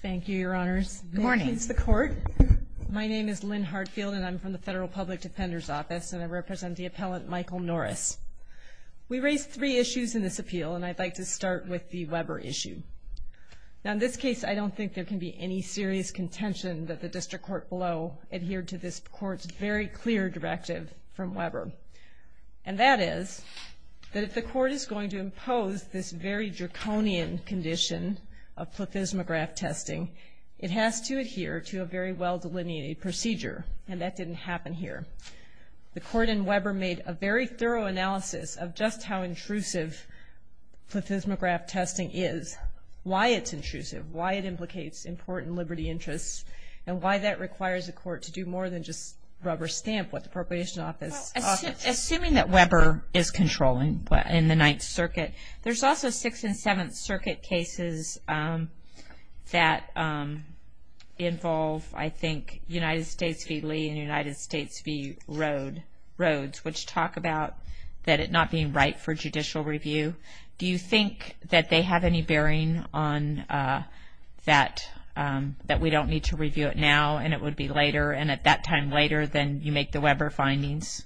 Thank you, your honors. Good morning. My name is Lynn Hartfield, and I'm from the Federal Public Defender's Office, and I represent the appellant Michael Norris. We raised three issues in this appeal, and I'd like to start with the Weber issue. Now, in this case, I don't think there can be any serious contention that the district court below adhered to this court's very clear directive from Weber. And that is that if the court is going to impose this very draconian condition of plethysmograph testing, it has to adhere to a very well-delineated procedure, and that didn't happen here. The court in Weber made a very thorough analysis of just how intrusive plethysmograph testing is, why it's intrusive, why it implicates important liberty interests, and why that requires the court to do more than just rubber stamp what the appropriation office offers. Well, assuming that Weber is controlling in the Ninth Circuit, there's also Sixth and Seventh Circuit cases that involve, I think, United States v. Lee and United States v. Rhodes, which talk about that it not being right for judicial review. Do you think that they have any bearing on that, that we don't need to review it now and it would be later, and at that time later than you make the Weber findings?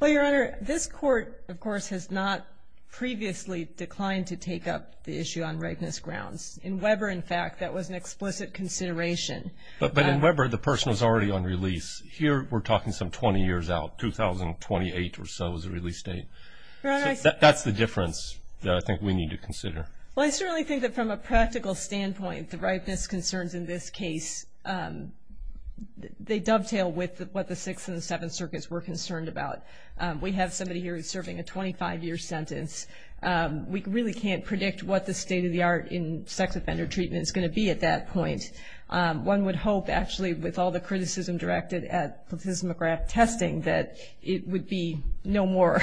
Well, Your Honor, this court, of course, has not previously declined to take up the issue on redness grounds. In Weber, in fact, that was an explicit consideration. But in Weber, the person was already on release. Here, we're talking some 20 years out, 2028 or so is the release date. That's the difference that I think we need to consider. Well, I certainly think that from a practical standpoint, the ripeness concerns in this case, they dovetail with what the Sixth and Seventh Circuits were concerned about. We have somebody here who's serving a 25-year sentence. We really can't predict what the state-of-the-art in sex offender treatment is going to be at that point. One would hope, actually, with all the criticism directed at platysma graft testing, that it would be no more.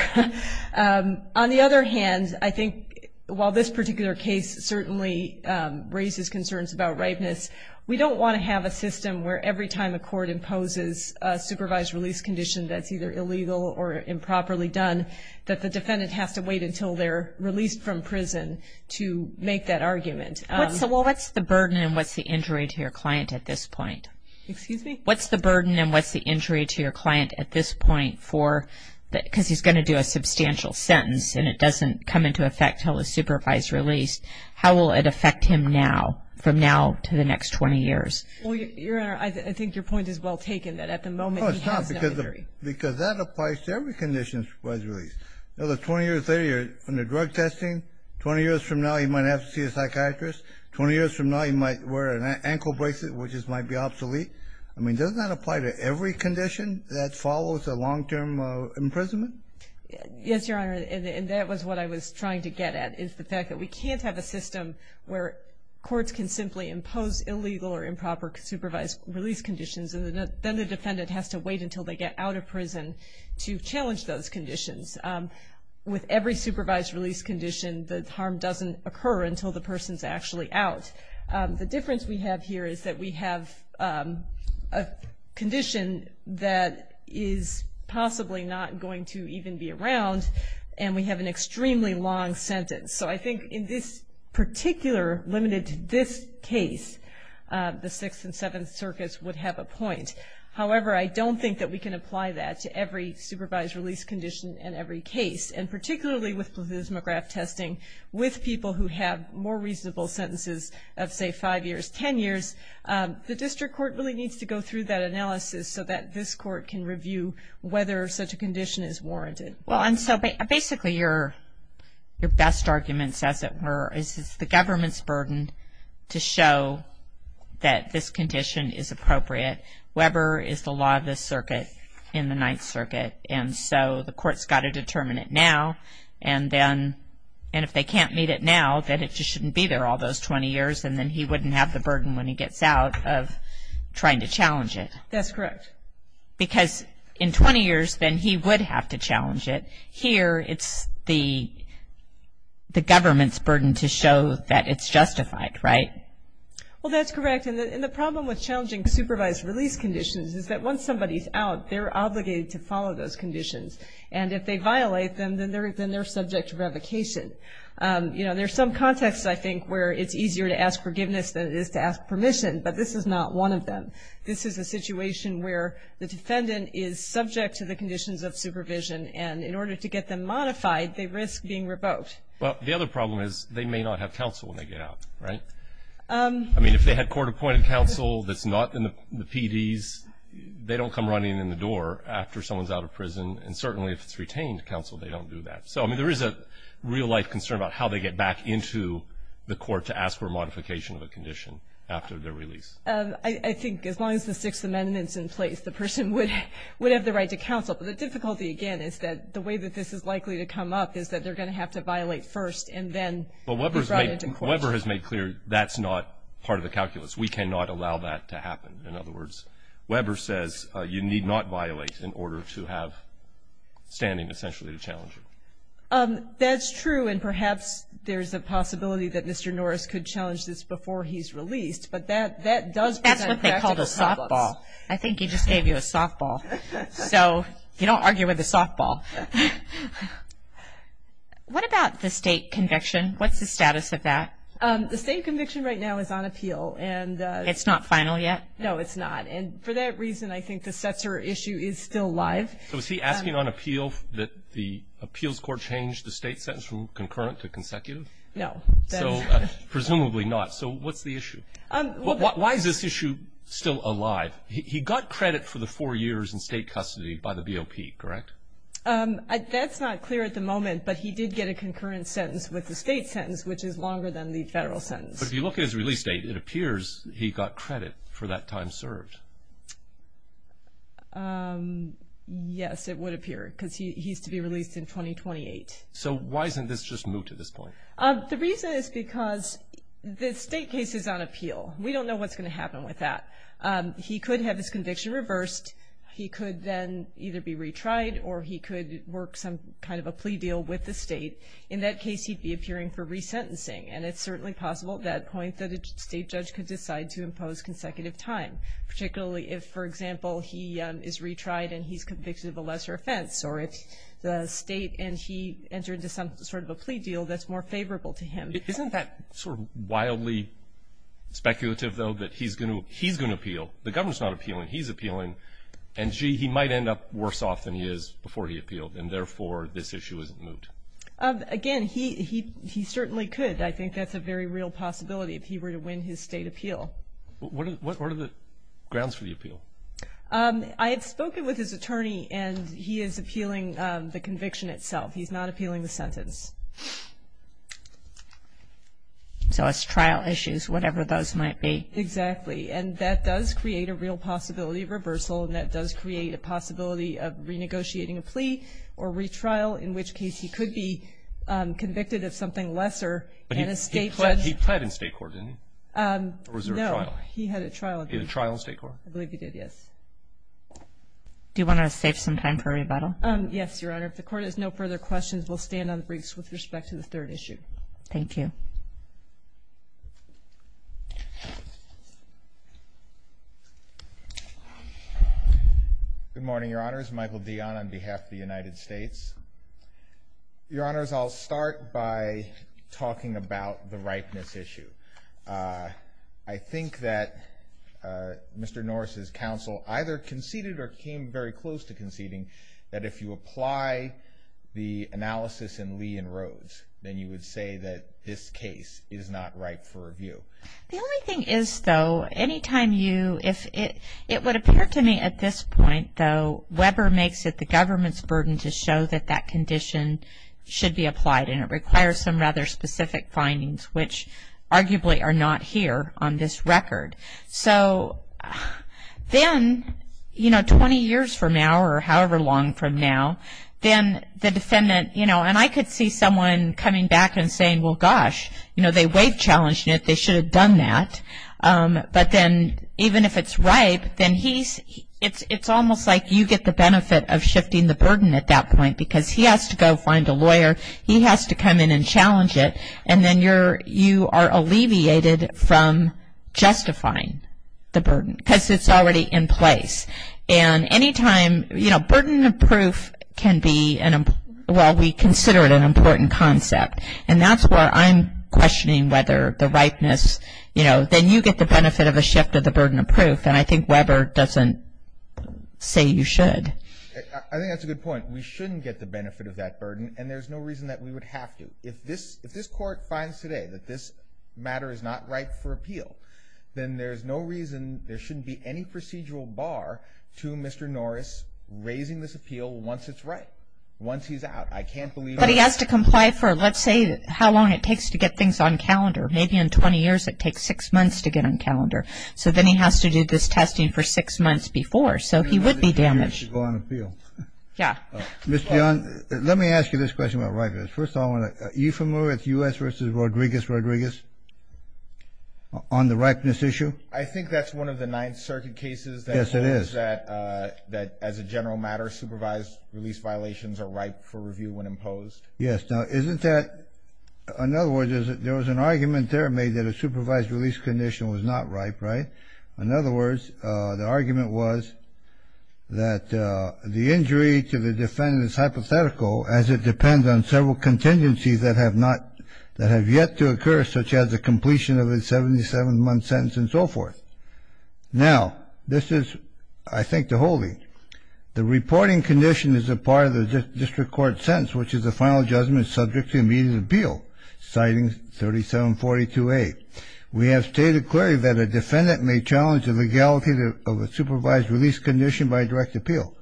On the other hand, I think while this particular case certainly raises concerns about ripeness, we don't want to have a system where every time a court imposes a supervised release condition that's either illegal or improperly done, that the defendant has to wait until they're released from prison to make that argument. Well, what's the burden and what's the injury to your client at this point? Excuse me? What's the burden and what's the injury to your client at this point for, because he's going to do a substantial sentence and it doesn't come into effect until the supervised release. How will it affect him now, from now to the next 20 years? Well, Your Honor, I think your point is well taken, that at the moment he has no injury. No, it's not, because that applies to every condition supervised release. Another 20 years later, you're under drug testing. Twenty years from now, you might have to see a psychiatrist. Twenty years from now, you might wear an ankle bracelet, which might be obsolete. I mean, doesn't that apply to every condition that follows a long-term imprisonment? Yes, Your Honor, and that was what I was trying to get at, is the fact that we can't have a system where courts can simply impose illegal or improper supervised release conditions, and then the defendant has to wait until they get out of prison to challenge those conditions. With every supervised release condition, the harm doesn't occur until the person's actually out. The difference we have here is that we have a condition that is possibly not going to even be around, and we have an extremely long sentence. So I think in this particular, limited to this case, the Sixth and Seventh Circuits would have a point. However, I don't think that we can apply that to every supervised release condition in every case, and particularly with plethysmograph testing, with people who have more reasonable sentences of, say, five years, ten years, the district court really needs to go through that analysis so that this court can review whether such a condition is warranted. Well, and so basically your best arguments, as it were, is it's the government's burden to show that this condition is appropriate. Weber is the law of the circuit in the Ninth Circuit, and so the court's got to determine it now, and if they can't meet it now, then it just shouldn't be there all those 20 years, and then he wouldn't have the burden when he gets out of trying to challenge it. That's correct. Because in 20 years, then he would have to challenge it. Here it's the government's burden to show that it's justified, right? Well, that's correct, and the problem with challenging supervised release conditions is that once somebody's out, they're obligated to follow those conditions, and if they violate them, then they're subject to revocation. You know, there are some contexts, I think, where it's easier to ask forgiveness than it is to ask permission, but this is not one of them. This is a situation where the defendant is subject to the conditions of supervision, and in order to get them modified, they risk being revoked. Well, the other problem is they may not have counsel when they get out, right? I mean, if they had court-appointed counsel that's not in the PDs, they don't come running in the door after someone's out of prison, and certainly if it's retained counsel, they don't do that. So, I mean, there is a real-life concern about how they get back into the court to ask for a modification of a condition after their release. I think as long as the Sixth Amendment's in place, the person would have the right to counsel. But the difficulty, again, is that the way that this is likely to come up is that they're going to have to violate first and then be brought into court. But Weber has made clear that's not part of the calculus. We cannot allow that to happen. In other words, Weber says you need not violate in order to have standing essentially to challenge you. That's true, and perhaps there's a possibility that Mr. Norris could challenge this before he's released, but that does present practical problems. That's what they called a softball. I think he just gave you a softball. So you don't argue with a softball. What about the state conviction? What's the status of that? The state conviction right now is on appeal. It's not final yet? No, it's not. And for that reason, I think the Setzer issue is still live. So is he asking on appeal that the appeals court change the state sentence from concurrent to consecutive? No. So presumably not. So what's the issue? Why is this issue still alive? He got credit for the four years in state custody by the BOP, correct? That's not clear at the moment, but he did get a concurrent sentence with the state sentence, which is longer than the federal sentence. But if you look at his release date, it appears he got credit for that time served. Yes, it would appear, because he's to be released in 2028. So why isn't this just moot at this point? The reason is because the state case is on appeal. We don't know what's going to happen with that. He could have his conviction reversed. He could then either be retried or he could work some kind of a plea deal with the state. In that case, he'd be appearing for resentencing, and it's certainly possible at that point that a state judge could decide to impose consecutive time, particularly if, for example, he is retried and he's convicted of a lesser offense, or if the state and he entered into some sort of a plea deal that's more favorable to him. Isn't that sort of wildly speculative, though, that he's going to appeal? The government's not appealing. He's appealing. And, gee, he might end up worse off than he is before he appealed, and therefore this issue isn't moot. Again, he certainly could. I think that's a very real possibility if he were to win his state appeal. What are the grounds for the appeal? I had spoken with his attorney, and he is appealing the conviction itself. He's not appealing the sentence. So it's trial issues, whatever those might be. Exactly. And that does create a real possibility of reversal, and that does create a possibility of renegotiating a plea or retrial, in which case he could be convicted of something lesser. But he pled in state court, didn't he? No. Or was there a trial? He had a trial. He had a trial in state court. I believe he did, yes. Do you want to save some time for rebuttal? Yes, Your Honor. If the Court has no further questions, we'll stand on briefs with respect to the third issue. Thank you. Good morning, Your Honors. Michael Dionne on behalf of the United States. Your Honors, I'll start by talking about the ripeness issue. I think that Mr. Norris' counsel either conceded or came very close to conceding that if you apply the analysis in Lee and Rhodes, then you would say that this case is not ripe for review. The only thing is, though, any time you – it would appear to me at this point, though, Weber makes it the government's burden to show that that condition should be applied, and it requires some rather specific findings, which arguably are not here on this record. So then, you know, 20 years from now or however long from now, then the defendant, you know, and I could see someone coming back and saying, well, gosh, you know, they waived challenge, and they should have done that. But then even if it's ripe, then he's – it's almost like you get the benefit of shifting the burden at that point because he has to go find a lawyer. He has to come in and challenge it, and then you are alleviated from justifying the burden because it's already in place. And any time, you know, burden of proof can be an – well, we consider it an important concept, and that's where I'm questioning whether the ripeness, you know, then you get the benefit of a shift of the burden of proof, and I think Weber doesn't say you should. I think that's a good point. We shouldn't get the benefit of that burden, and there's no reason that we would have to. If this court finds today that this matter is not ripe for appeal, then there's no reason there shouldn't be any procedural bar to Mr. Norris raising this appeal once it's ripe, once he's out. I can't believe that. But he has to comply for, let's say, how long it takes to get things on calendar. Maybe in 20 years it takes six months to get on calendar. So then he has to do this testing for six months before, so he would be damaged. Yeah. Mr. Young, let me ask you this question about ripeness. First of all, are you familiar with U.S. v. Rodriguez-Rodriguez on the ripeness issue? I think that's one of the Ninth Circuit cases. Yes, it is. That as a general matter, supervised release violations are ripe for review when imposed. Yes. Now, isn't that – in other words, there was an argument there made that a supervised release condition was not ripe, right? In other words, the argument was that the injury to the defendant is hypothetical as it depends on several contingencies that have not – that have yet to occur, such as the completion of a 77-month sentence and so forth. Now, this is, I think, the holding. The reporting condition is a part of the district court sentence, which is the final judgment subject to immediate appeal, citing 3742A. We have stated clearly that a defendant may challenge the legality of a supervised release condition by direct appeal.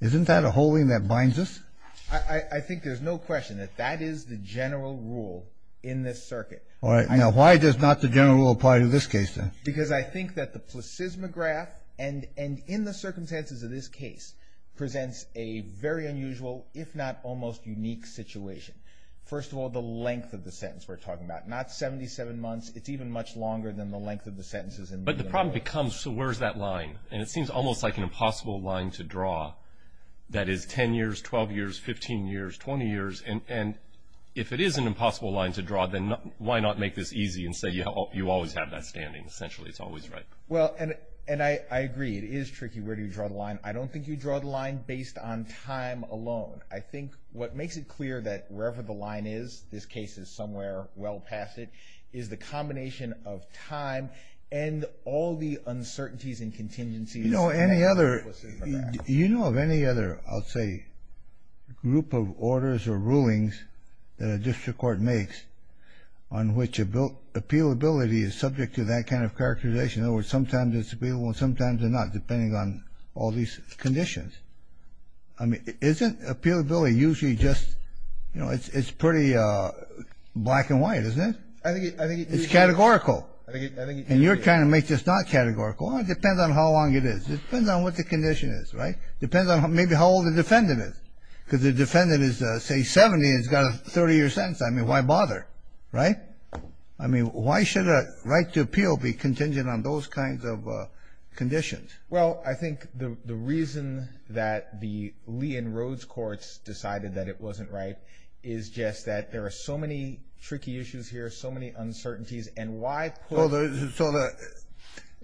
Isn't that a holding that binds us? I think there's no question that that is the general rule in this circuit. All right. Now, why does not the general rule apply to this case then? Because I think that the placismograph, and in the circumstances of this case, presents a very unusual, if not almost unique, situation. First of all, the length of the sentence we're talking about. Not 77 months. It's even much longer than the length of the sentences. But the problem becomes, so where's that line? And it seems almost like an impossible line to draw that is 10 years, 12 years, 15 years, 20 years. And if it is an impossible line to draw, then why not make this easy and say you always have that standing? Essentially, it's always right. Well, and I agree. It is tricky. Where do you draw the line? I don't think you draw the line based on time alone. I think what makes it clear that wherever the line is, this case is somewhere well past it, is the combination of time and all the uncertainties and contingencies. You know of any other, I'll say, group of orders or rulings that a district court makes on which appealability is subject to that kind of characterization. In other words, sometimes it's appealable and sometimes it's not, depending on all these conditions. I mean, isn't appealability usually just, you know, it's pretty black and white, isn't it? I think it is. It's categorical. And you're trying to make this not categorical. Well, it depends on how long it is. It depends on what the condition is, right? It depends on maybe how old the defendant is. Because the defendant is, say, 70 and has got a 30-year sentence. I mean, why bother, right? I mean, why should a right to appeal be contingent on those kinds of conditions? Well, I think the reason that the Lee and Rhodes courts decided that it wasn't right is just that there are so many tricky issues here, so many uncertainties. And why put – So the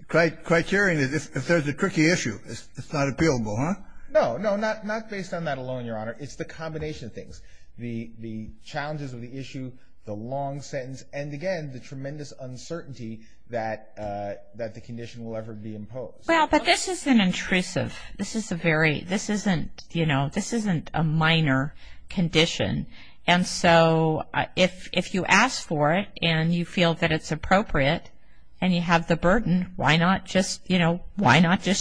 criterion is if there's a tricky issue, it's not appealable, huh? No, no, not based on that alone, Your Honor. It's the combination of things. The challenges of the issue, the long sentence, and, again, the tremendous uncertainty that the condition will ever be imposed. Well, but this isn't intrusive. This isn't a minor condition. And so if you ask for it and you feel that it's appropriate and you have the burden, why not just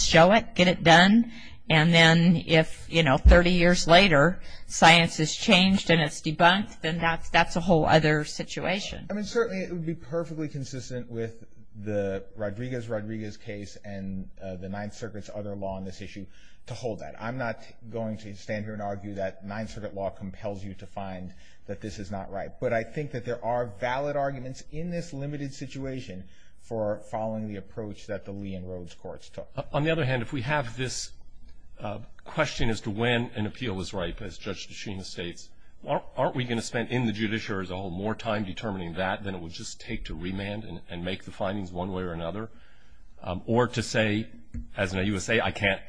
show it, get it done? And then if 30 years later science has changed and it's debunked, then that's a whole other situation. I mean, certainly it would be perfectly consistent with the Rodriguez-Rodriguez case and the Ninth Circuit's other law on this issue to hold that. I'm not going to stand here and argue that Ninth Circuit law compels you to find that this is not right. But I think that there are valid arguments in this limited situation for following the approach that the Lee and Rhodes courts took. On the other hand, if we have this question as to when an appeal is ripe, as Judge Deschina states, aren't we going to spend in the judiciary as a whole more time determining that than it would just take to remand and make the findings one way or another? Or to say, as an AUSA, I can't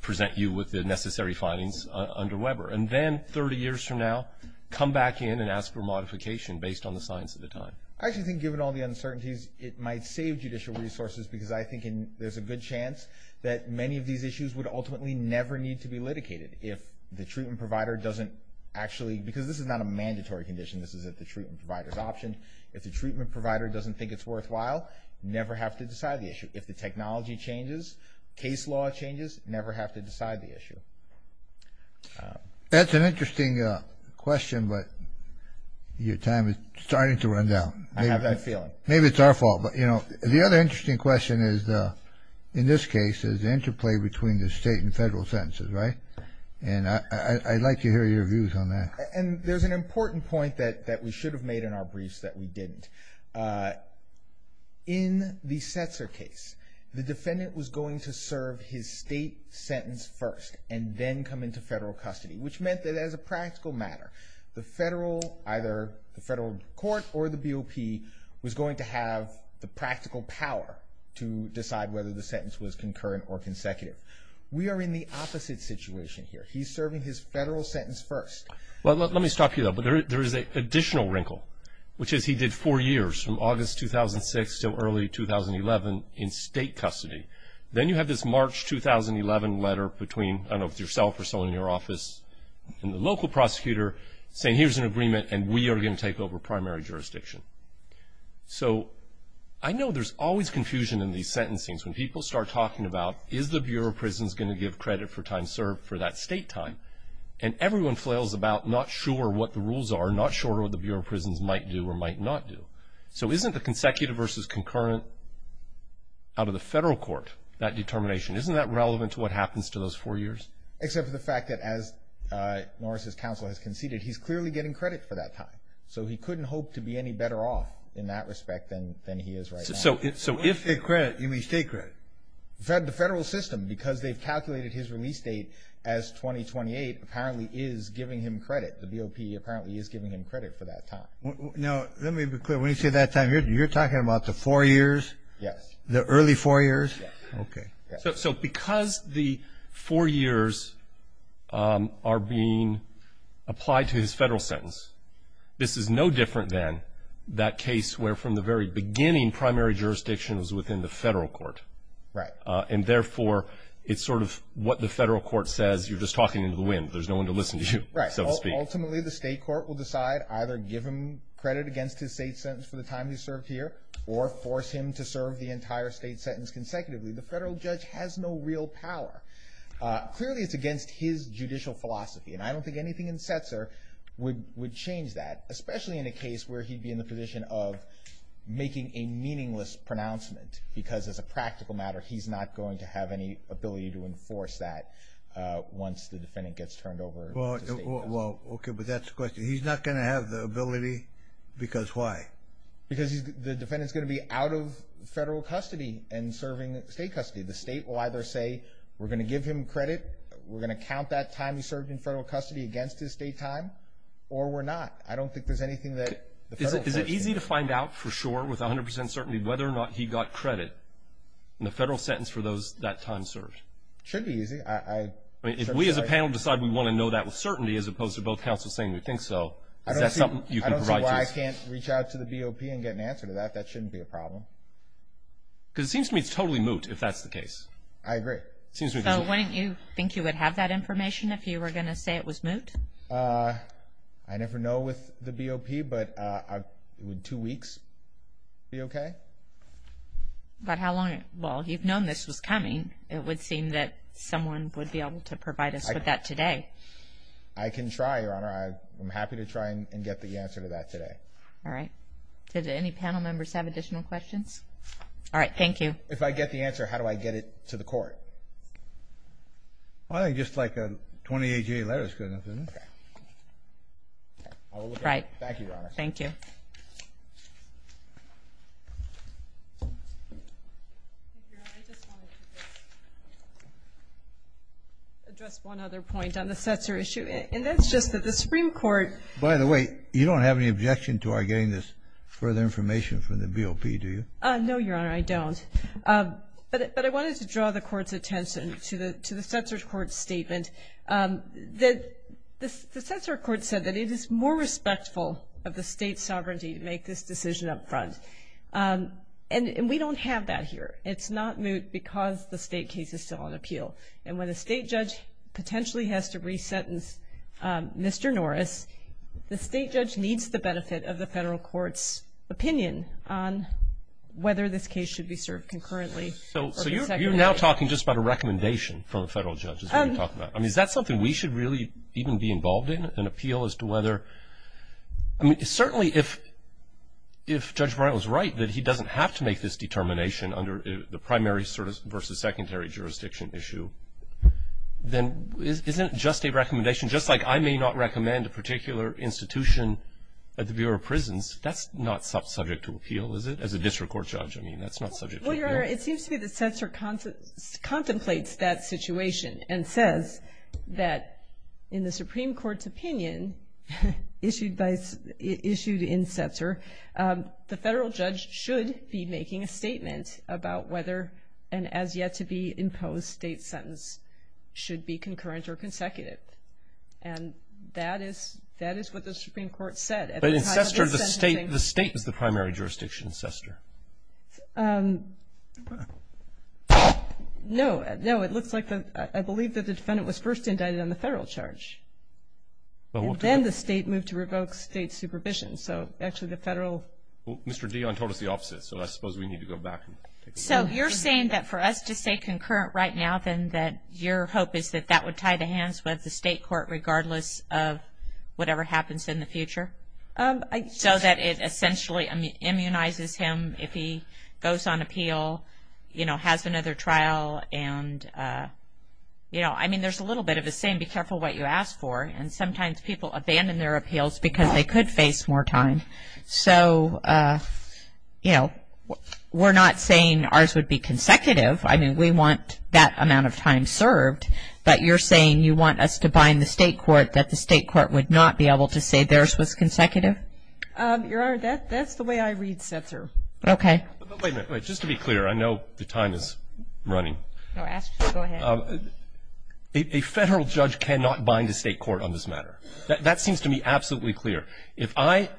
present you with the necessary findings under Weber. And then 30 years from now, come back in and ask for modification based on the science of the time. I actually think, given all the uncertainties, it might save judicial resources because I think there's a good chance that many of these issues would ultimately never need to be litigated. If the treatment provider doesn't actually, because this is not a mandatory condition, this is at the treatment provider's option, if the treatment provider doesn't think it's worthwhile, you never have to decide the issue. If the technology changes, case law changes, you never have to decide the issue. That's an interesting question, but your time is starting to run down. I have that feeling. Maybe it's our fault. But, you know, the other interesting question is, in this case, is the interplay between the state and federal sentences, right? And I'd like to hear your views on that. And there's an important point that we should have made in our briefs that we didn't. In the Setzer case, the defendant was going to serve his state sentence first and then come into federal custody, which meant that as a practical matter, either the federal court or the BOP was going to have the practical power to decide whether the sentence was concurrent or consecutive. We are in the opposite situation here. He's serving his federal sentence first. Well, let me stop you there. But there is an additional wrinkle, which is he did four years from August 2006 until early 2011 in state custody. Then you have this March 2011 letter between, I don't know, yourself or someone in your office and the local prosecutor saying, here's an agreement and we are going to take over primary jurisdiction. So I know there's always confusion in these sentencings. When people start talking about, is the Bureau of Prisons going to give credit for time served for that state time? And everyone flails about not sure what the rules are, not sure what the Bureau of Prisons might do or might not do. So isn't the consecutive versus concurrent out of the federal court, that determination, isn't that relevant to what happens to those four years? Except for the fact that as Norris' counsel has conceded, he's clearly getting credit for that time. So he couldn't hope to be any better off in that respect than he is right now. So if the credit, you mean state credit? The federal system, because they've calculated his release date as 2028, apparently is giving him credit. The BOP apparently is giving him credit for that time. Now let me be clear. When you say that time, you're talking about the four years? Yes. The early four years? Yes. Okay. So because the four years are being applied to his federal sentence, this is no different than that case where from the very beginning, the main primary jurisdiction is within the federal court. Right. And therefore, it's sort of what the federal court says. You're just talking into the wind. There's no one to listen to you, so to speak. Right. Ultimately, the state court will decide, either give him credit against his state sentence for the time he served here or force him to serve the entire state sentence consecutively. The federal judge has no real power. Clearly, it's against his judicial philosophy, and I don't think anything in Setzer would change that, especially in a case where he'd be in the position of making a meaningless pronouncement because as a practical matter, he's not going to have any ability to enforce that once the defendant gets turned over to state custody. Well, okay, but that's the question. He's not going to have the ability because why? Because the defendant is going to be out of federal custody and serving state custody. The state will either say, we're going to give him credit, we're going to count that time he served in federal custody against his state time or we're not. I don't think there's anything that the federal judge can do. Is it easy to find out for sure with 100% certainty whether or not he got credit in the federal sentence for that time served? It should be easy. If we as a panel decide we want to know that with certainty as opposed to both counsels saying we think so, is that something you can provide to us? I don't see why I can't reach out to the BOP and get an answer to that. That shouldn't be a problem. Because it seems to me it's totally moot if that's the case. I agree. So wouldn't you think you would have that information if you were going to say it was moot? I never know with the BOP, but would two weeks be okay? But how long? Well, you've known this was coming. It would seem that someone would be able to provide us with that today. I can try, Your Honor. I'm happy to try and get the answer to that today. All right. Did any panel members have additional questions? All right, thank you. If I get the answer, how do I get it to the court? I think just like a 28-day letter is good enough, isn't it? All right. Thank you, Your Honor. Thank you. Your Honor, I just wanted to address one other point on the Setzer issue. And that's just that the Supreme Court ---- By the way, you don't have any objection to our getting this further information from the BOP, do you? No, Your Honor, I don't. But I wanted to draw the Court's attention to the Setzer Court's statement. The Setzer Court said that it is more respectful of the State's sovereignty to make this decision up front. And we don't have that here. It's not moot because the State case is still on appeal. And when a State judge potentially has to resentence Mr. Norris, the State judge needs the benefit of the Federal Court's opinion on whether this case should be served concurrently or consecutively. So you're now talking just about a recommendation from a Federal judge, is what you're talking about. I mean, is that something we should really even be involved in, an appeal as to whether ---- I mean, certainly if Judge Breyer was right that he doesn't have to make this determination under the primary versus secondary jurisdiction issue, then isn't it just a recommendation? Just like I may not recommend a particular institution at the Bureau of Prisons, that's not subject to appeal, is it, as a district court judge? I mean, that's not subject to appeal. It seems to me that Setzer contemplates that situation and says that in the Supreme Court's opinion issued in Setzer, the Federal judge should be making a statement about whether an as-yet-to-be-imposed State sentence should be concurrent or consecutive. In Setzer, the State is the primary jurisdiction in Setzer. No. No, it looks like the ---- I believe that the defendant was first indicted on the Federal charge. Then the State moved to revoke State supervision. So actually the Federal ---- Mr. Dionne told us the opposite, so I suppose we need to go back. So you're saying that for us to say concurrent right now, then that your hope is that that would tie the hands with the State court regardless of whatever happens in the future? So that it essentially immunizes him if he goes on appeal, you know, has another trial, and, you know, I mean there's a little bit of a saying, be careful what you ask for, and sometimes people abandon their appeals because they could face more time. So, you know, we're not saying ours would be consecutive. I mean, we want that amount of time served. But you're saying you want us to bind the State court, that the State court would not be able to say theirs was consecutive? Your Honor, that's the way I read Setzer. Okay. Wait a minute. Just to be clear, I know the time is running. Go ahead. A Federal judge cannot bind a State court on this matter. That seems to me absolutely clear. If I,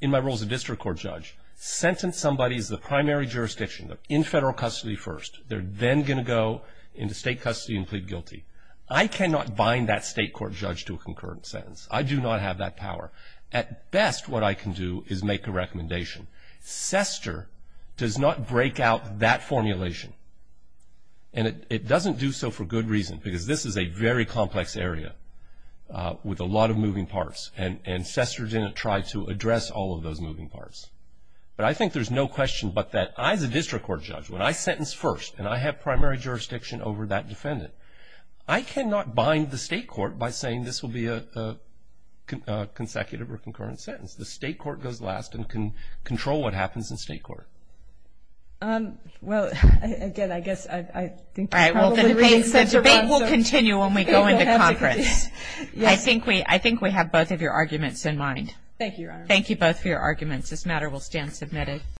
in my role as a district court judge, sentence somebody as the primary jurisdiction in Federal custody first, they're then going to go into State custody and plead guilty. I cannot bind that State court judge to a concurrent sentence. I do not have that power. At best, what I can do is make a recommendation. Setzer does not break out that formulation, and it doesn't do so for good reason, because this is a very complex area with a lot of moving parts, and Setzer didn't try to address all of those moving parts. But I think there's no question but that I, as a district court judge, when I sentence first and I have primary jurisdiction over that defendant, I cannot bind the State court by saying this will be a consecutive or concurrent sentence. The State court goes last and can control what happens in State court. Well, again, I guess I think you probably read Setzer wrong. The debate will continue when we go into conference. I think we have both of your arguments in mind. Thank you, Your Honor. Thank you both for your arguments. This matter will stand submitted.